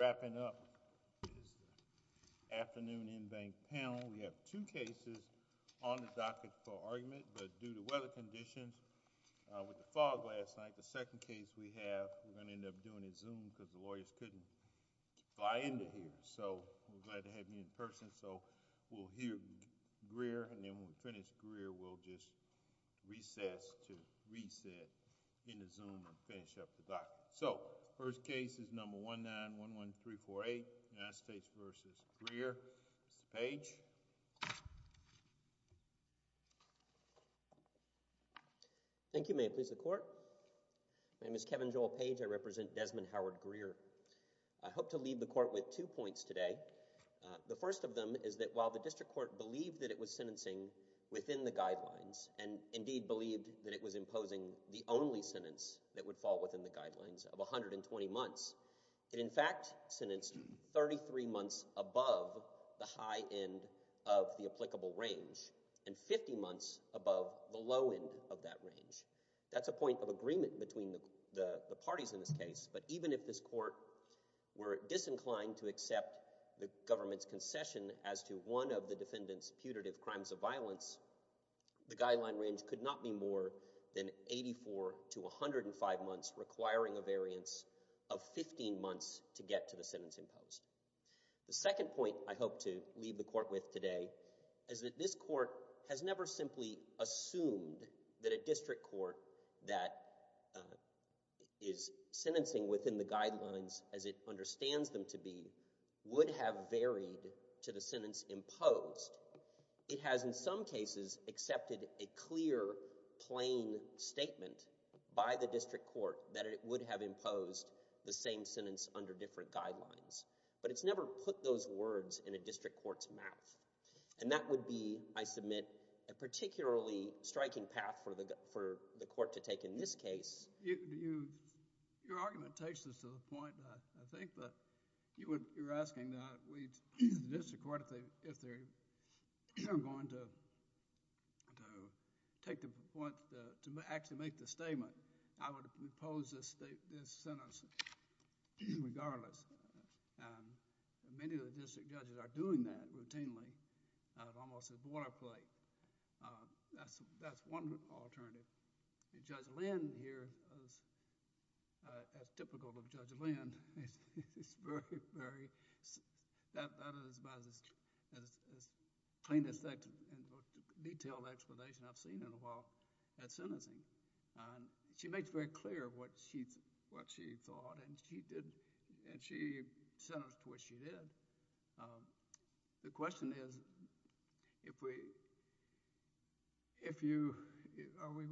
wrapping up is the afternoon in-bank panel. We have two cases on the docket for argument, but due to weather conditions with the fog last night, the second case we have, we're going to end up doing a Zoom because the lawyers couldn't fly into here. So we're glad to have you in person. So we'll hear Greer and then when we finish Greer, we'll just recess to 3-4-8, United States v. Greer. Mr. Page. Thank you, Mayor. Please, the court. My name is Kevin Joel Page. I represent Desmond Howard Greer. I hope to leave the court with two points today. The first of them is that while the district court believed that it was sentencing within the guidelines and indeed believed that it was imposing the only sentence that would fall within the guidelines of 120 months, it in fact sentenced 33 months above the high end of the applicable range and 50 months above the low end of that range. That's a point of agreement between the parties in this case, but even if this court were disinclined to accept the government's concession as to one of the defendant's putative crimes of violence, the guideline range could not be more than 84 to 105 months, requiring a variance of 15 months to get to the sentence imposed. The second point I hope to leave the court with today is that this court has never simply assumed that a district court that is sentencing within the guidelines as it understands them to be would have varied to the sentence imposed. It has in some cases accepted a clear, plain statement by the district court that it would have imposed the same sentence under different guidelines, but it's never put those words in a district court's mouth, and that would be, I submit, a particularly striking path for the court to take in this case. Your argument takes us to the point, I think, that you're asking the district court if they're going to actually make the statement, I would impose this sentence regardless. Many of the district judges are doing that routinely. It's almost a boilerplate. That's one alternative. Judge Lynn here, as typical of Judge Lynn, is very, very, that is about as plain as that detailed explanation I've seen in a while at sentencing. She makes very clear what she thought, and she sentenced to what she did. The question is, are we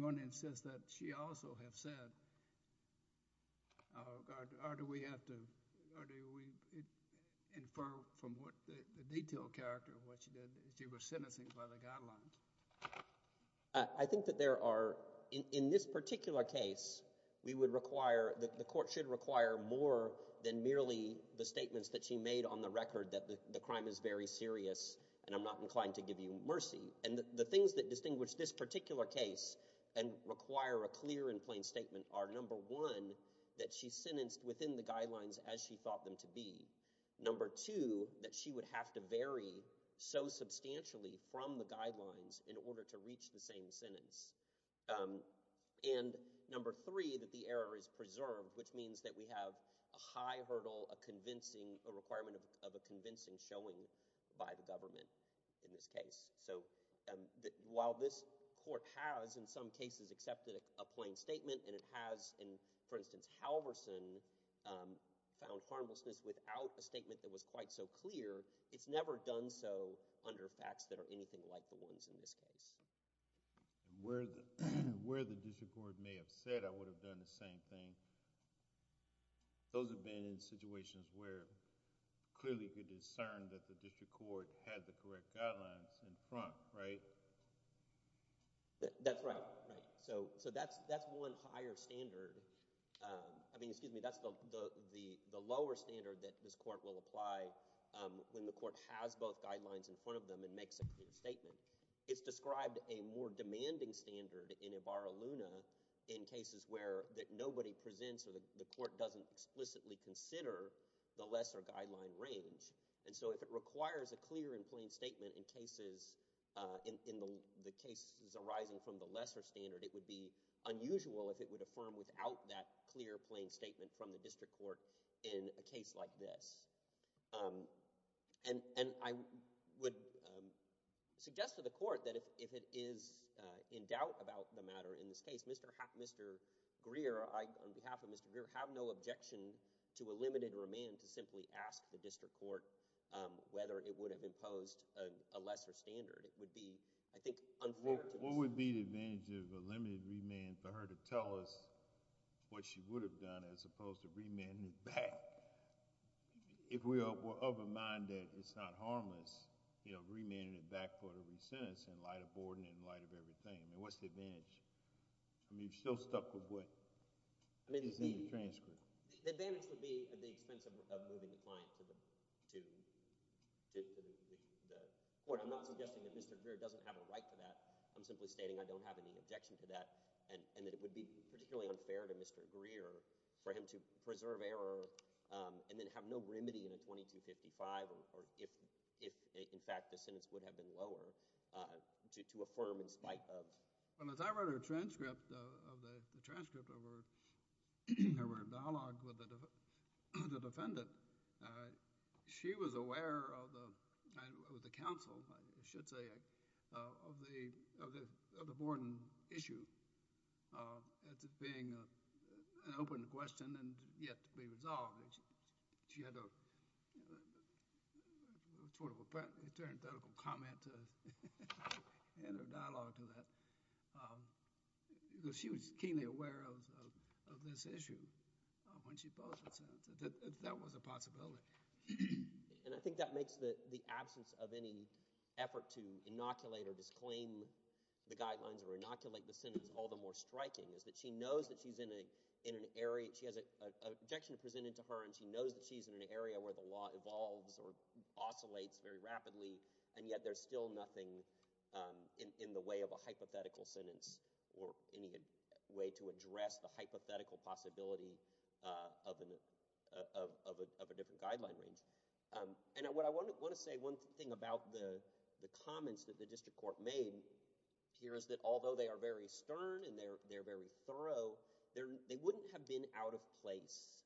going to insist that she also have said, or do we have to, or do we infer from what the detailed character of what she did that she was sentencing by the guidelines? I think that there are, in this particular case, we would require, the court should require more than merely the statements that she made on the record that the crime is very serious, and I'm not inclined to give you mercy, and the things that distinguish this particular case and require a clear and plain statement are, number one, that she sentenced within the guidelines as she thought them to be, number two, that she would have to vary so substantially from the guidelines in order to reach the same sentence, and number three, that the error is preserved, which means that we have a high hurdle, a convincing, a while this court has, in some cases, accepted a plain statement, and it has, for instance, Halverson found harmlessness without a statement that was quite so clear, it's never done so under facts that are anything like the ones in this case. Where the district court may have said, I would have done the same thing, those have been in situations where clearly you could discern that the district court had the correct guidelines in front, right? That's right, right, so that's one higher standard, I mean, excuse me, that's the lower standard that this court will apply when the court has both guidelines in front of them and makes a clear statement. It's described a more demanding standard in Ibarra-Luna in cases where that nobody presents or the court doesn't explicitly consider the lesser guideline range, and so if it requires a clear and plain statement in cases, in the cases arising from the lesser standard, it would be unusual if it would affirm without that clear plain statement from the district court in a case like this, and I would suggest to the court that if it is in doubt about the matter in this case, Mr. Greer, I, on behalf of Mr. Greer, have no objection to a limited remand to simply ask the district court whether it would have imposed a lesser standard. It would be, I think, unfair to... What would be the advantage of a limited remand for her to tell us what she would have done as opposed to remanding it back? If we were of a mind that it's not harmless, you know, remanding it back for the resentence in light of Borden, in light of everything, I mean, what's the advantage? I mean, you're still stuck with what is in the transcript. The advantage would be at the expense of moving the client to the court. I'm not suggesting that Mr. Greer doesn't have a right to that. I'm simply stating I don't have any objection to that and that it would be particularly unfair to Mr. Greer for him to preserve error and then have no remedy in a 2255 or if, in fact, the sentence would have been lower to affirm in spite of... Well, as I read her transcript of the transcript of her dialogue with the defendant, she was aware of the counsel, I should say, of the Borden issue as being an open question and yet to be resolved. She had a sort of parenthetical comment in her dialogue to that. You know, she was keenly aware of this issue when she posed it, so that was a possibility. And I think that makes the absence of any effort to inoculate or disclaim the guidelines or inoculate the sentence all the more striking is that she knows that she's in an area... she has an objection presented to her and she knows that she's in an area where the law evolves or there's still nothing in the way of a hypothetical sentence or any way to address the hypothetical possibility of a different guideline range. And what I want to say, one thing about the comments that the district court made here is that although they are very stern and they're very thorough, they wouldn't have been out of place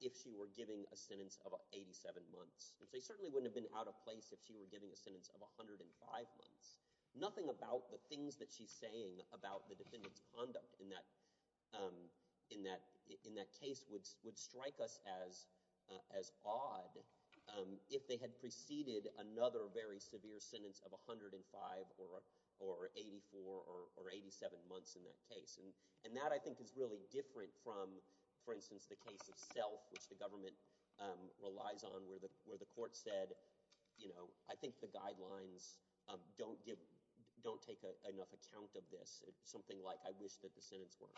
if she were giving a sentence of 87 months. They certainly wouldn't have been out of place if she were giving a sentence of 105 months. Nothing about the things that she's saying about the defendant's conduct in that case would strike us as odd if they had preceded another very severe sentence of 105 or 84 or 87 months in that case. And that, I think, is really different from, for instance, the case of Self, which the government relies on where the court said, you know, I think the guidelines don't give... don't take enough account of this. Something like, I wish that the sentence were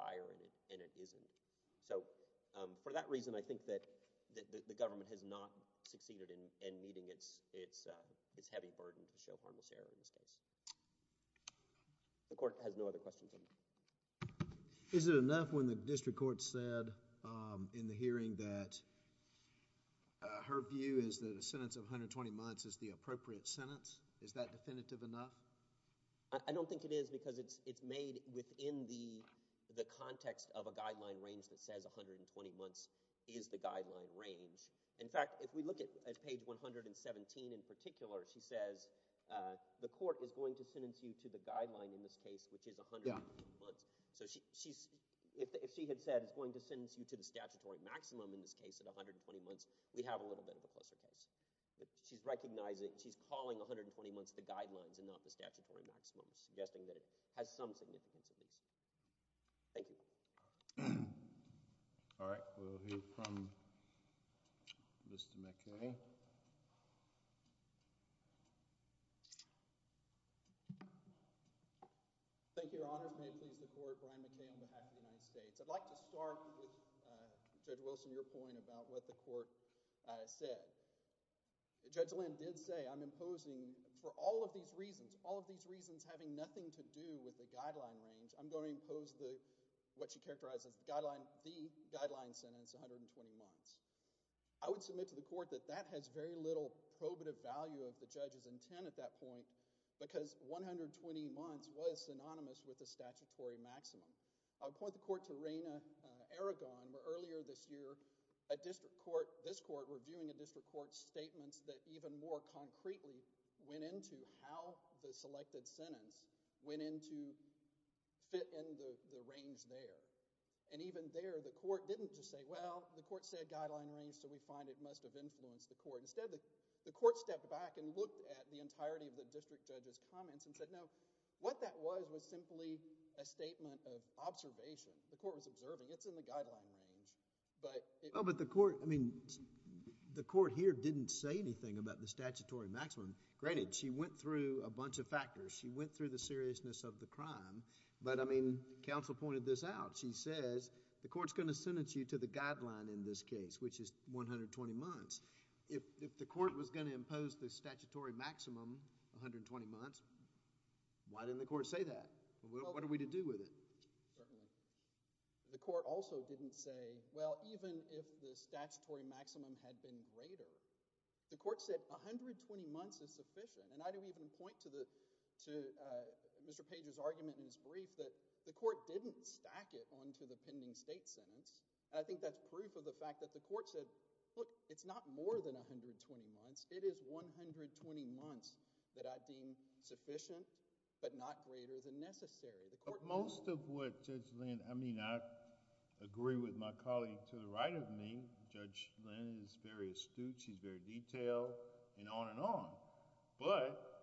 higher and it isn't. So, for that reason, I think that the government has not succeeded in meeting its heavy burden to show harmless error in this case. The court has no other questions. Is it enough when the district court said in the hearing that her view is that a sentence of 120 months is the appropriate sentence? Is that definitive enough? I don't think it is because it's made within the context of a guideline range that says 120 months is the guideline range. In fact, if we look at page 117 in particular, she says the court is going to sentence you to the guideline in this case, which is 120 months. So, if she had said it's going to sentence you to the statutory maximum in this case at 120 months, we have a little bit of a closer case. She's recognizing... she's calling 120 months the guidelines and not the statutory maximum, suggesting that it has some significance at least. Thank you. All right. We'll hear from Mr. McKay. Thank you, Your Honors. May it please the court, Brian McKay on behalf of the United States. I'd like to start with Judge Wilson, your point about what the court said. Judge Lynn did say I'm imposing for all of these reasons, all of these reasons having nothing to do with the guideline range, I'm going to impose what she characterized as the guideline sentence, 120 months. I would submit to the court that that has very little probative value of the judge's intent at that point because 120 months was synonymous with the statutory maximum. I'll point the court to Raina Aragon, where earlier this year a district court, this court, reviewing a district court's statements that even more concretely went into how the selected sentence went in to fit in the range there. Even there, the court didn't just say, well, the court said guideline range so we find it must have influenced the court. Instead, the court stepped back and looked at the entirety of the district judge's comments and said, no, what that was was simply a statement of observation. The court was observing. It's in the guideline range, but... But the court, I mean, the court here didn't say anything about the statutory maximum. Granted, she went through a bunch of factors. She went through the seriousness of the crime, but, I mean, counsel pointed this out. She says the court's going to sentence you to the guideline in this case, which is 120 months. If the court was going to impose the statutory maximum, 120 months, why didn't the court say that? What are we to do with it? Certainly. The court also didn't say, well, even if the statutory maximum had been greater, the court said 120 months is sufficient, and I do even point to Mr. Page's argument in his brief that the court didn't stack it onto the pending state sentence, and I think that's proof of the fact that the court said, look, it's not more than 120 months. It is 120 months that I deem sufficient but not greater than necessary. Most of what Judge Lynn... I mean, I agree with my colleague to the right of me. Judge Lynn is very astute. She's very detailed and on and on, but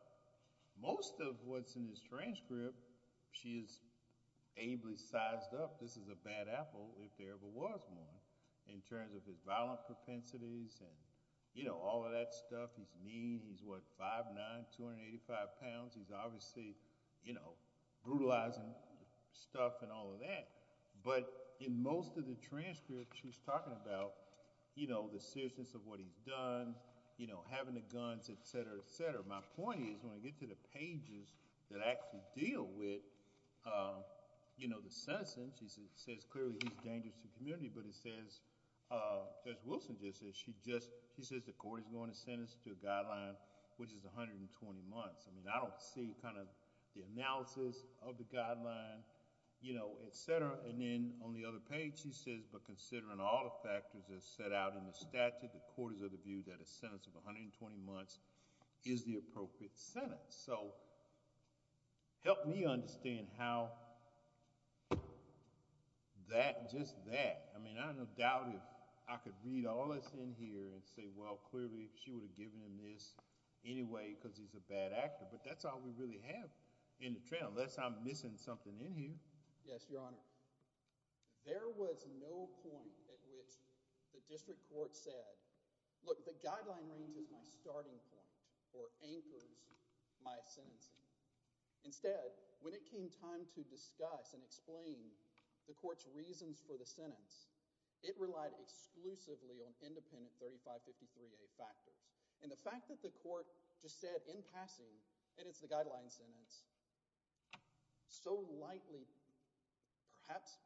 most of what's in his transcript, she is ably sized up. This is a bad apple, if there ever was one, in terms of his violent propensities and, you know, all of that stuff. He's mean. He's, what, 5'9", 285 pounds. He's obviously, you know, brutalizing stuff and all of that, but in most of the transcript, she's talking about, you know, the seriousness of what he's done, you know, having the guns, et cetera, et cetera. My point is, when I get to the pages that actually deal with, you know, the sentence, it says clearly he's dangerous to the community, but it says, Judge Wilson just said, she just... she says the court is going to sentence to a guideline which is 120 months. I mean, I don't see kind of the analysis of the guideline, you know, et cetera, and then on the other page, she says, but considering all the factors that's set out in the statute, the court is of the view that a sentence of 120 months is the appropriate sentence. So, help me understand how that, just that, I mean, I have no doubt if I could read all this in here and say, well, clearly she would have given him this anyway because he's a bad actor, but that's all we really have in the trail unless I'm missing something in here. Yes, Your Honor. There was no point at which the district court said, look, the guideline range is my starting point or anchors my sentencing. Instead, when it came time to discuss and explain the court's reasons for the sentence, it relied exclusively on independent 3553A factors, and the fact that the court just said in passing, and it's the guideline sentence, so lightly perhaps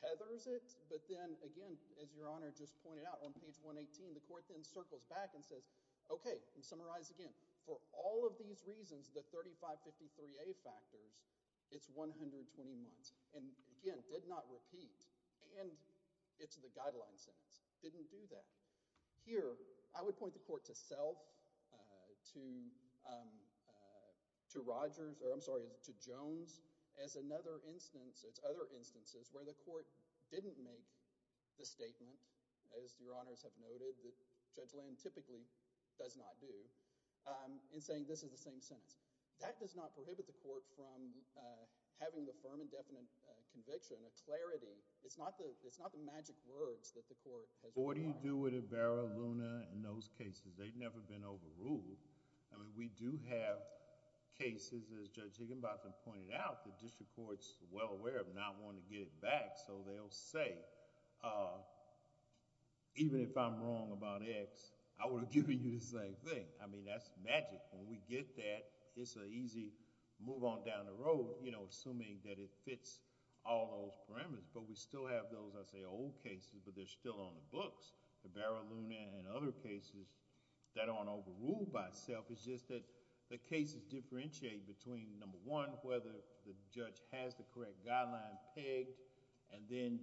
tethers it, but then again, as Your Honor just pointed out, on page 118, the court then circles back and says, okay, and summarize again, for all of these reasons, the 3553A factors, it's 120 months, and again, did not repeat, and it's the guideline sentence, didn't do that. Here, I would point the court to self, to Rogers, or I'm sorry, to Jones, as another instance, it's other instances where the court didn't make the statement, as Your Honors have noted, that Judge Lynn typically does not do, in saying this is the same sentence. That does not prohibit the court from having the firm and definite conviction, a clarity. It's not the magic words that the court has required. What do you do with Ibarra, Luna, and those cases? They've never been overruled. We do have cases, as Judge Higginbotham pointed out, the district court's well aware of not wanting to get it back, so they'll say, even if I'm wrong about X, I would have given you the same thing. I mean, that's magic. When we get that, it's an easy move on down the road, assuming that it fits all those parameters, but we still have those, I say, old cases, but they're still on the books. Ibarra, Luna, and other cases that aren't overruled by self, it's just that the cases differentiate between, number one, whether the judge has the correct guideline pegged, and then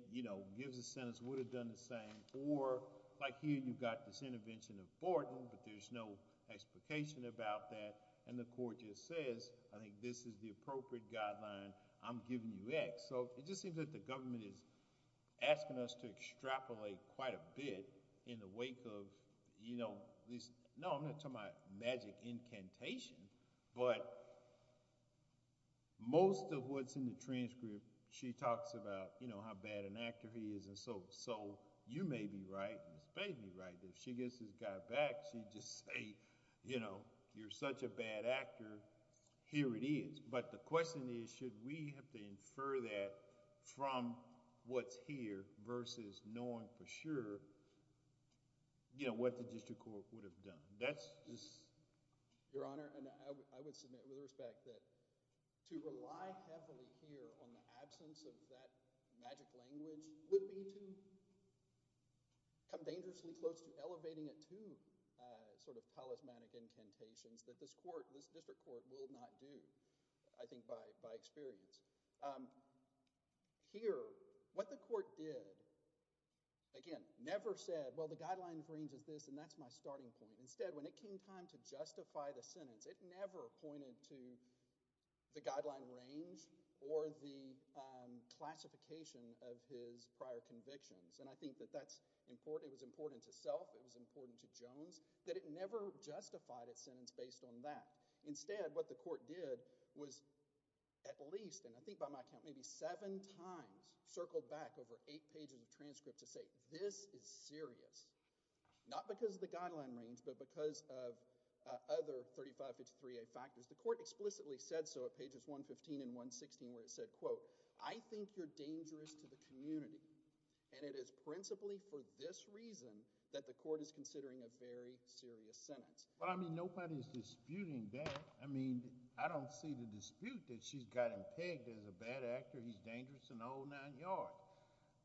gives a sentence, would have done the same, or like here, you've got this intervention of Borton, but there's no explication about that, and the court just says, I think this is the appropriate guideline, I'm giving you X. So, it just seems that the government is asking us to extrapolate quite a bit in the wake of, you know, these, no, I'm not talking about magic incantation, but most of what's in the transcript, she talks about, you know, how bad an actor he is, and so, you may be right, Ms. Bay may be right, that if she gets this guy back, she'd just say, you know, you're such a bad actor, here it is. But the question is, should we have to infer that from what's here, versus knowing for sure, you know, what the district court would have done? That's just... absence of that magic language would be to come dangerously close to elevating it to sort of talismanic incantations that this court, this district court, will not do, I think, by experience. Here, what the court did, again, never said, well, the guideline range is this, and that's my starting point. Instead, when it came time to justify the sentence, it never pointed to the guideline range or the classification of his prior convictions, and I think that that's important. It was important to Self, it was important to Jones, that it never justified its sentence based on that. Instead, what the court did was at least, and I think by my count, maybe seven times circled back over eight pages of transcript to say, this is serious, not because of the guideline range, but because of other 35-53a factors. The court explicitly said so at pages 115 and 116, where it said, quote, I think you're dangerous to the community, and it is principally for this reason that the court is considering a very serious sentence. Well, I mean, nobody's disputing that. I mean, I don't see the dispute that she's got him pegged as a bad actor. He's dangerous in all nine yards.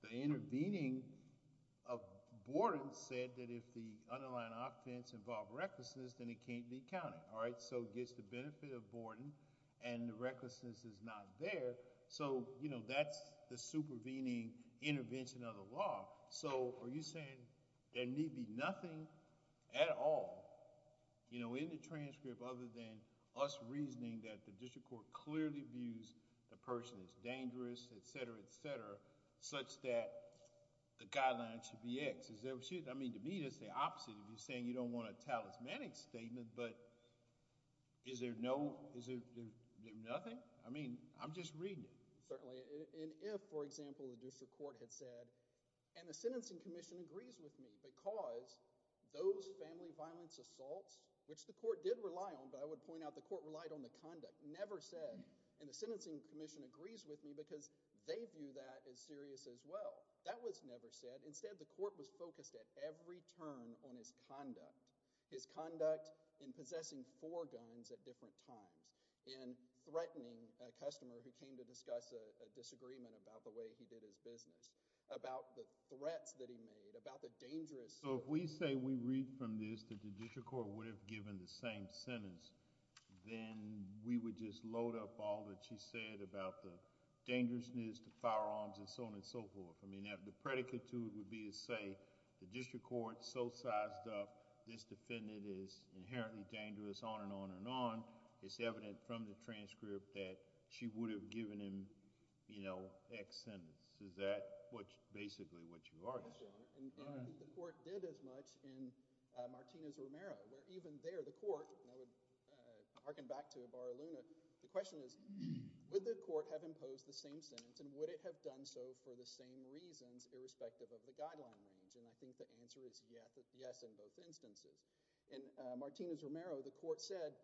The intervening of Borden said that if the underlying offense involved recklessness, then it can't be counted, all right, so it gets the benefit of Borden, and the recklessness is not there, so, you know, that's the supervening intervention of the law, so are you saying there need be nothing at all, you know, in the transcript other than us reasoning that the district court clearly views the person as dangerous, etc., etc., such that the guideline should be X? I mean, to me, it's the opposite of you saying you don't want a talismanic statement, but is there no, is there nothing? I mean, I'm just reading it. Certainly, and if, for example, the district court had said, and the sentencing commission agrees with me because those family violence assaults, which the court did rely on, but I would point out the court relied on the conduct, never said, and the sentencing commission agrees with me because they view that as serious as well, that was never said. Instead, the court was focused at every turn on his conduct, his conduct in possessing four guns at different times, in threatening a customer who came to discuss a disagreement about the way he did his business, about the threats that he made, about the dangerous... So, if we say we read from this that the district court would have given the same sentence, then we would just load up all that she said about the dangerousness, the firearms, and so on and so forth. I mean, the predicate to it would be to say the district court so sized up this defendant is inherently dangerous, on and on and on, it's evident from the transcript that she would have given him, you know, X sentence. Is that what, basically, what you are saying? And I think the court did as much in Martinez-Romero, where even there the court, and I would hearken back to Ibarra Luna, the question is, would the court have imposed the same sentence, and would it have done so for the same reasons, irrespective of the guideline range? And I think the answer is yes, in both instances. In Martinez-Romero, the court said,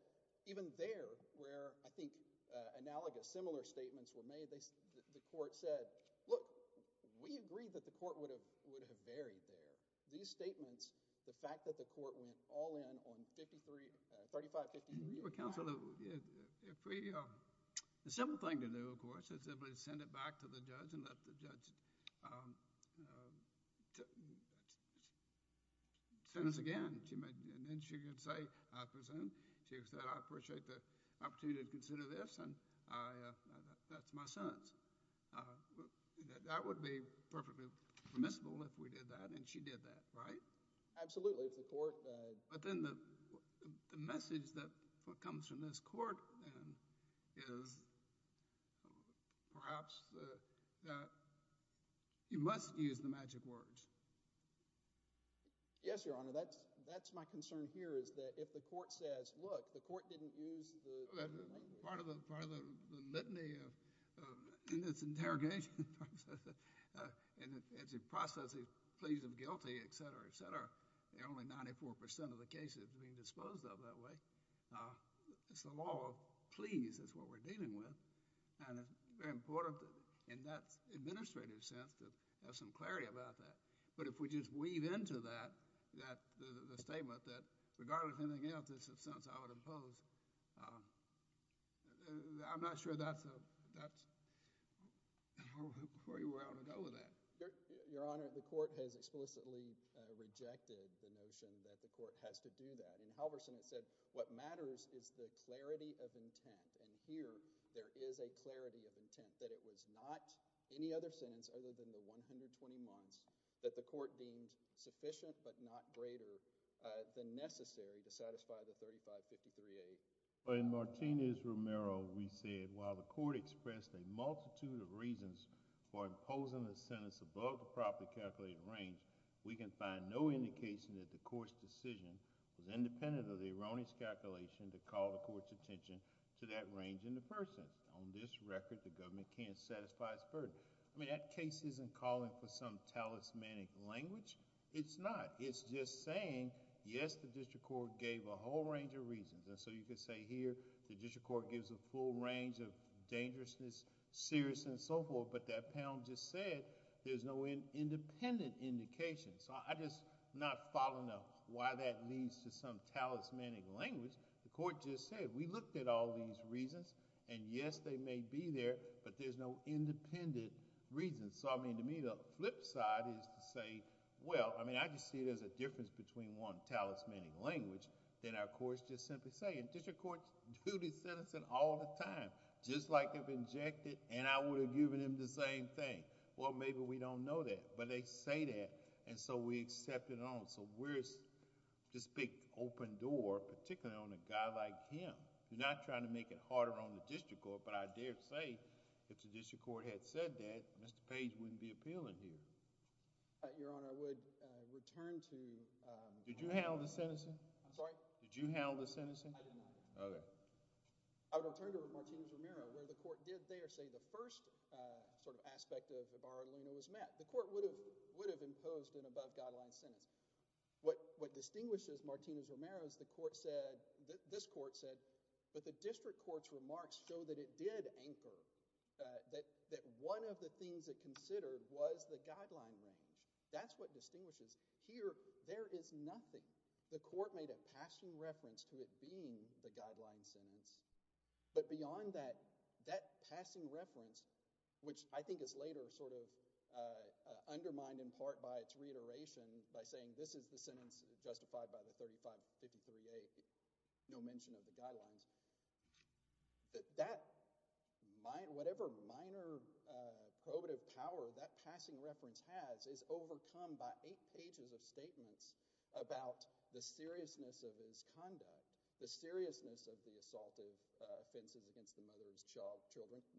even there, where I think analogous, similar statements were made, the court said, look, we agreed that the court would have varied there. These statements, the fact that the court went all in on 35, 50 years. Your counsel, if we, the simple thing to do, of course, is simply send it back to the judge and let the judge sentence again, and then she could say, I presume, she could say, I appreciate the permissible, if we did that, and she did that, right? Absolutely. But then the message that comes from this court, then, is perhaps that you must use the magic words. Yes, Your Honor, that's my concern here, is that if the court says, look, the court didn't use the part of the part of the litany of, in this interrogation process, and it's a process, he's pleased and guilty, et cetera, et cetera, there are only 94% of the cases being disposed of that way. It's the law of pleas is what we're dealing with, and it's very important in that administrative sense to have some clarity about that. But if we just weave into that, that the statement that, regardless of anything else, it's a sentence I would impose, I'm not sure that's a, that's, where you want to go with that? Your Honor, the court has explicitly rejected the notion that the court has to do that. In Halverson, it said, what matters is the clarity of intent, and here, there is a clarity of intent, that it was not any other sentence other than the 120 months that the court deemed sufficient but not greater than necessary to the extent that the court deemed sufficient. In Romero, we said, while the court expressed a multitude of reasons for imposing the sentence above the properly calculated range, we can find no indication that the court's decision was independent of the erroneous calculation to call the court's attention to that range in the person. On this record, the government can't satisfy its burden. I mean, that case isn't calling for some talismanic language. It's not. It's just saying, yes, the district court gave a whole range of reasons, and so you could say here, the district court gives a full range of dangerousness, serious, and so forth, but that panel just said there's no independent indication. So, I'm just not following up why that leads to some talismanic language. The court just said, we looked at all these reasons, and yes, they may be there, but there's no independent reason. So, I mean, to me, the flip side is to say, well, I mean, I just see it as a difference between one talismanic language, then our courts just simply say, and district courts do this sentencing all the time, just like they've injected, and I would have given them the same thing. Well, maybe we don't know that, but they say that, and so we accept it on. So, we're this big open door, particularly on a guy like him. You're not trying to make it harder on the district court, but I dare say if the district court had said that, Mr. Page wouldn't be appealing here. Your Honor, I would return to— Did you handle the sentencing? I'm sorry? Did you handle the sentencing? I did not. Okay. I would return to Martinez-Romero, where the court did there say the first sort of aspect of Ibarra-Luna was met. The court would have imposed an above-guideline sentence. What distinguishes Martinez-Romero is the court said, this court said, but the district court's remarks show that it did anchor that one of the things it considered was the guideline range. That's what distinguishes. Here, there is nothing. The court made a passing reference to it being the guideline sentence, but beyond that, that passing reference, which I think is later sort of undermined in part by its reiteration by saying this is the sentence justified by the 3553A, no mention of the guidelines, that whatever minor prohibitive power that passing reference has is overcome by eight pages of statements about the seriousness of his conduct, the seriousness of the assault of offenses against the mother of his children,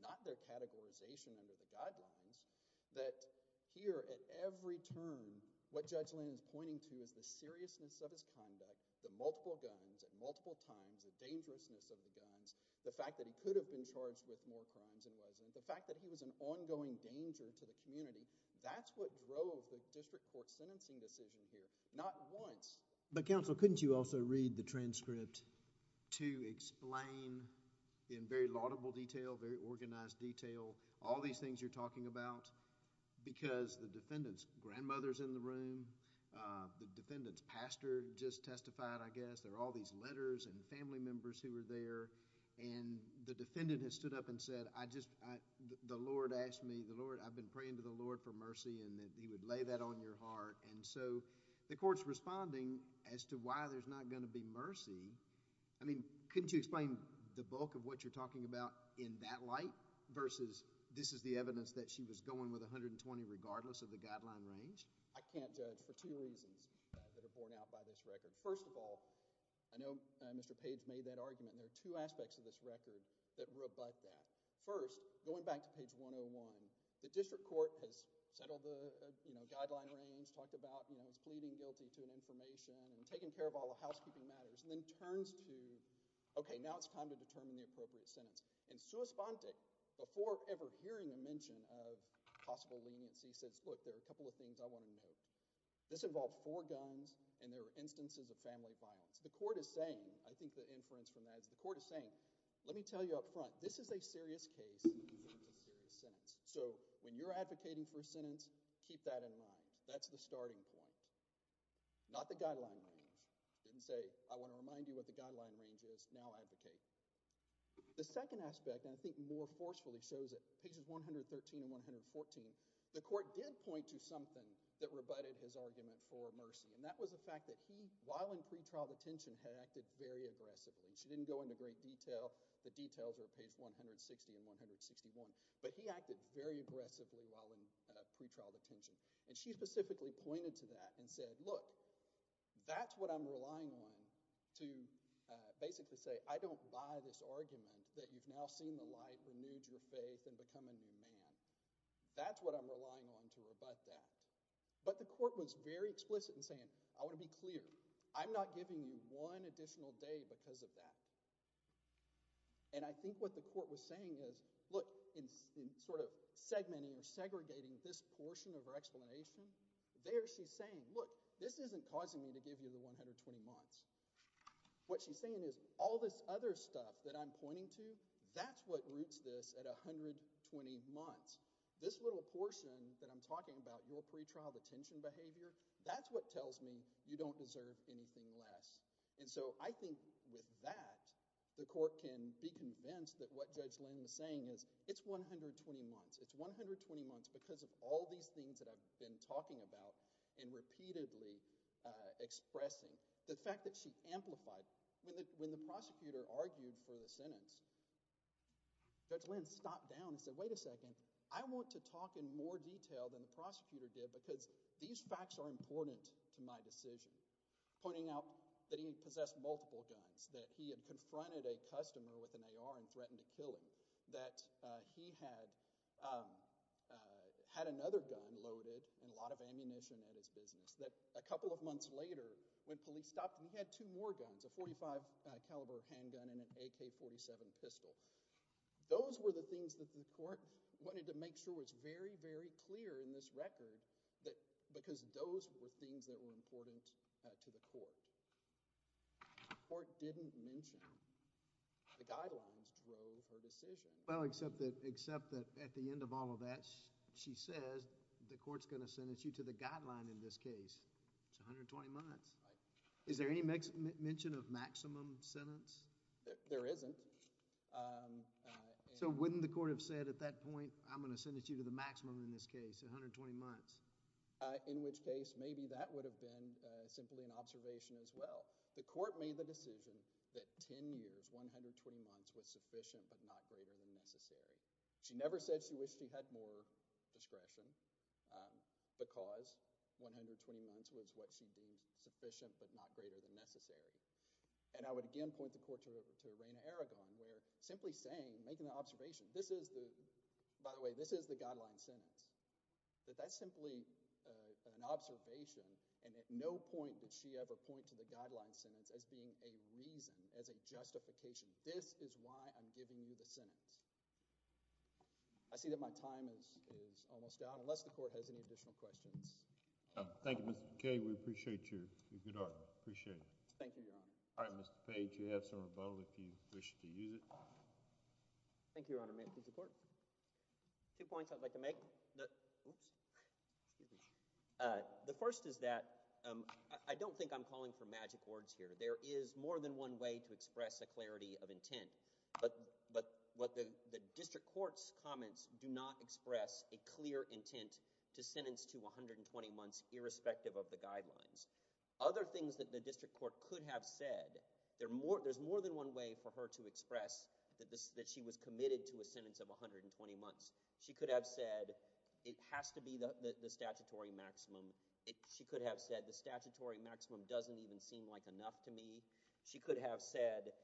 not their categorization under the guidelines, that here at every turn, what Judge Lynn is pointing to is the seriousness of his actions at multiple times, the dangerousness of the guns, the fact that he could have been charged with more crimes than he wasn't, the fact that he was an ongoing danger to the community. That's what drove the district court's sentencing decision here, not once. But counsel, couldn't you also read the transcript to explain in very laudable detail, very organized detail, all these things you're talking about because the defendant's grandmother is in the room, the defendant's pastor just testified, I guess, there are all these letters and family members who were there, and the defendant has stood up and said, the Lord asked me, I've been praying to the Lord for mercy and that he would lay that on your heart, and so the court's responding as to why there's not going to be mercy. I mean, couldn't you explain the bulk of what you're talking about in that light versus this is the evidence that she was going with 120 regardless of the guideline range? I can't judge for two reasons that are borne out by this record. First of all, I know Mr. Page made that argument, and there are two aspects of this record that rebut that. First, going back to page 101, the district court has settled the, you know, guideline range, talked about, you know, his pleading guilty to an information and taking care of all the housekeeping matters, and then turns to, okay, now it's time to determine the appropriate sentence. And Souspante, before ever hearing a mention of possible leniency, says, look, there are a couple of things I want to note. This involves four guns, and there are instances of family violence. The court is saying, I think the inference from that is the court is saying, let me tell you up front, this is a serious case and this is a serious sentence, so when you're advocating for a sentence, keep that in mind. That's the starting point, not the guideline range. Didn't say, I want to remind you what the guideline range is, now advocate. The second aspect, and I think more forcefully shows it, pages 113 and 114, the court did point to something that rebutted his argument for mercy, and that was the fact that he, while in pretrial detention, had acted very aggressively. She didn't go into great detail. The details are page 160 and 161, but he acted very aggressively while in pretrial detention, and she specifically pointed to that and said, look, that's what I'm relying on to basically say, I don't buy this argument that you've now seen the light, renewed your faith, and become a new man. That's what I'm relying on to rebut that, but the court was very explicit in saying, I want to be clear, I'm not giving you one additional day because of that, and I think what the court was saying is, look, in sort of segmenting or giving you the 120 months, what she's saying is, all this other stuff that I'm pointing to, that's what roots this at 120 months. This little portion that I'm talking about, your pretrial detention behavior, that's what tells me you don't deserve anything less, and so I think with that, the court can be convinced that what Judge Lynn was saying is, it's 120 months. It's 120 months because of all these things that I've been talking about and repeatedly expressing. The fact that she amplified, when the prosecutor argued for the sentence, Judge Lynn stopped down and said, wait a second, I want to talk in more detail than the prosecutor did because these facts are important to my decision, pointing out that he possessed multiple guns, that he had confronted a customer with an AR and threatened to kill him, that he had another gun loaded and a lot of ammunition at his business, that a couple of months later, when police stopped him, he had two more guns, a .45 caliber handgun and an AK-47 pistol. Those were the things that the court wanted to make sure was very, very clear in this record because those were things that were important to the court. The court didn't mention the guidelines drove her decision. Well, except that at the end of all of that, she says the court's going to sentence you to the guideline in this case. It's 120 months. Is there any mention of maximum sentence? There isn't. So wouldn't the court have said at that point, I'm going to sentence you to the maximum in this case, 120 months? In which case, maybe that would have been simply an observation as well. The court made the decision that 10 years, 120 months was sufficient but not greater than necessary. She never said she wished she had more discretion because 120 months was what she deemed sufficient but not greater than necessary. And I would again point the court to Reina Aragon, where simply saying, making the observation, this is the, by the way, this is the guideline sentence, that that's simply an observation and at no point did she ever point to the guideline sentence as being a reason, as a justification. This is why I'm giving you the sentence. I see that my time is almost out unless the court has any additional questions. Thank you, Mr. McKay. We appreciate your good art. Appreciate it. Thank you, Your Honor. All right, Mr. Page, you have some rebuttal if you wish to use it. Thank you, Your Honor. May it please the court. Two points I'd like to make. Oops, excuse me. The first is that I don't think I'm calling for magic words here. There is more than one way to express a clarity of intent, but the district court's comments do not express a clear intent to sentence to 120 months irrespective of the guidelines. Other things that the district court could have said, there's more than one way for her to express that she was committed to a sentence of 120 months. She could have said, it has to be the statutory maximum. She could have said, the statutory maximum doesn't even seem like enough to me. She could have said,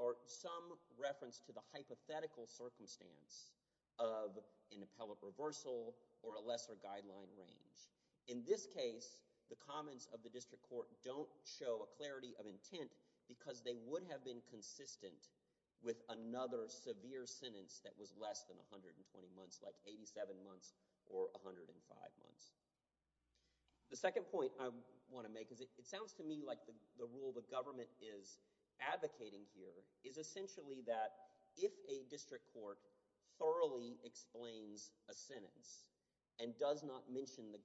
or some reference to the hypothetical circumstance of an appellate reversal or a lesser guideline range. In this case, the comments of the district court don't show a clarity of intent because they would have been consistent with another severe sentence that was less than 120 months, like 87 months or 105 months. The second point I want to make is it sounds to me like the rule the government is advocating here is essentially that if a district court thoroughly explains a sentence and does not influence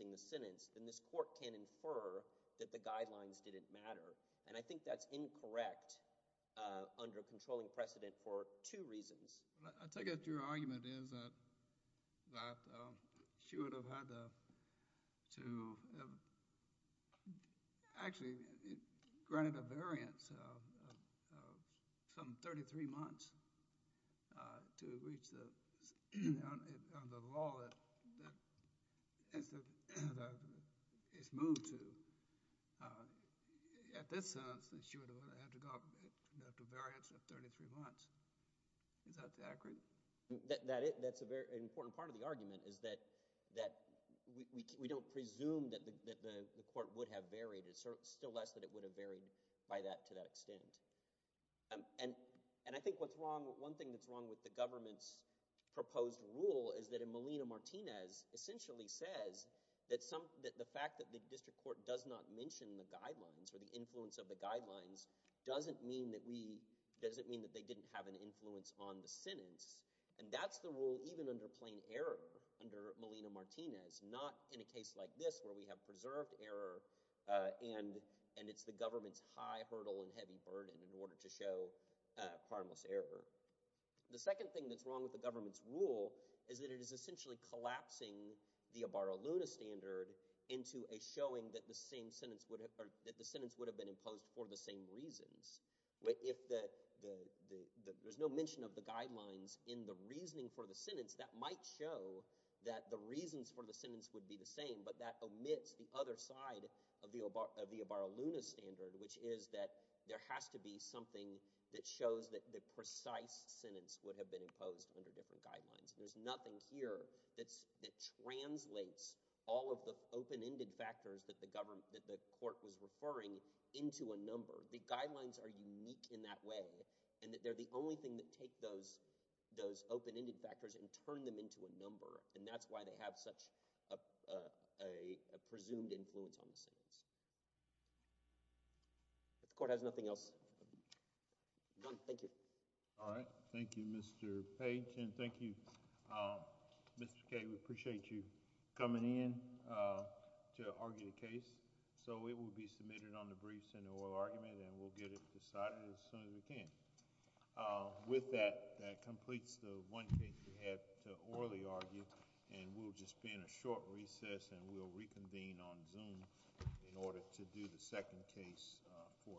the sentence, then this court can infer that the guidelines didn't matter. I think that's incorrect under controlling precedent for two reasons. I take it your argument is that she would have had to have actually granted a variance of some 33 months to reach the law that is moved to. At this sentence, she would have had to go up to a variance of 33 months. Is that accurate? That's a very important part of the argument is that we don't presume that the court would have varied. It's still less than it would have varied to that extent. I think one thing that's wrong with the government's proposed rule is that in Molina-Martinez essentially says that the fact that the district court does not mention the guidelines or the influence of the guidelines doesn't mean that they didn't have an influence on the sentence. That's the rule even under plain error under Molina-Martinez, not in a case like this where we have preserved error and it's the government's high hurdle and heavy burden in order to show harmless error. The second thing that's wrong with the government's rule is that it is essentially collapsing the Abaro-Luna standard into a showing that the sentence would have been imposed for the same reasons. There's no mention of the guidelines in the reasoning for the other side of the Abaro-Luna standard, which is that there has to be something that shows that the precise sentence would have been imposed under different guidelines. There's nothing here that translates all of the open-ended factors that the court was referring into a number. The guidelines are unique in that way and that they're the only thing that take those open-ended factors and turn them into a number, and that's why they have such a presumed influence on the sentence. If the court has nothing else, I'm done. Thank you. All right. Thank you, Mr. Page, and thank you, Mr. Kaye. We appreciate you coming in to argue the case, so it will be submitted on the briefs in the oral argument and we'll get it decided as soon as we can. With that, that completes the one case we had to orally argue, and we'll just be in a short recess and we'll reconvene on Zoom in order to do the second case for today.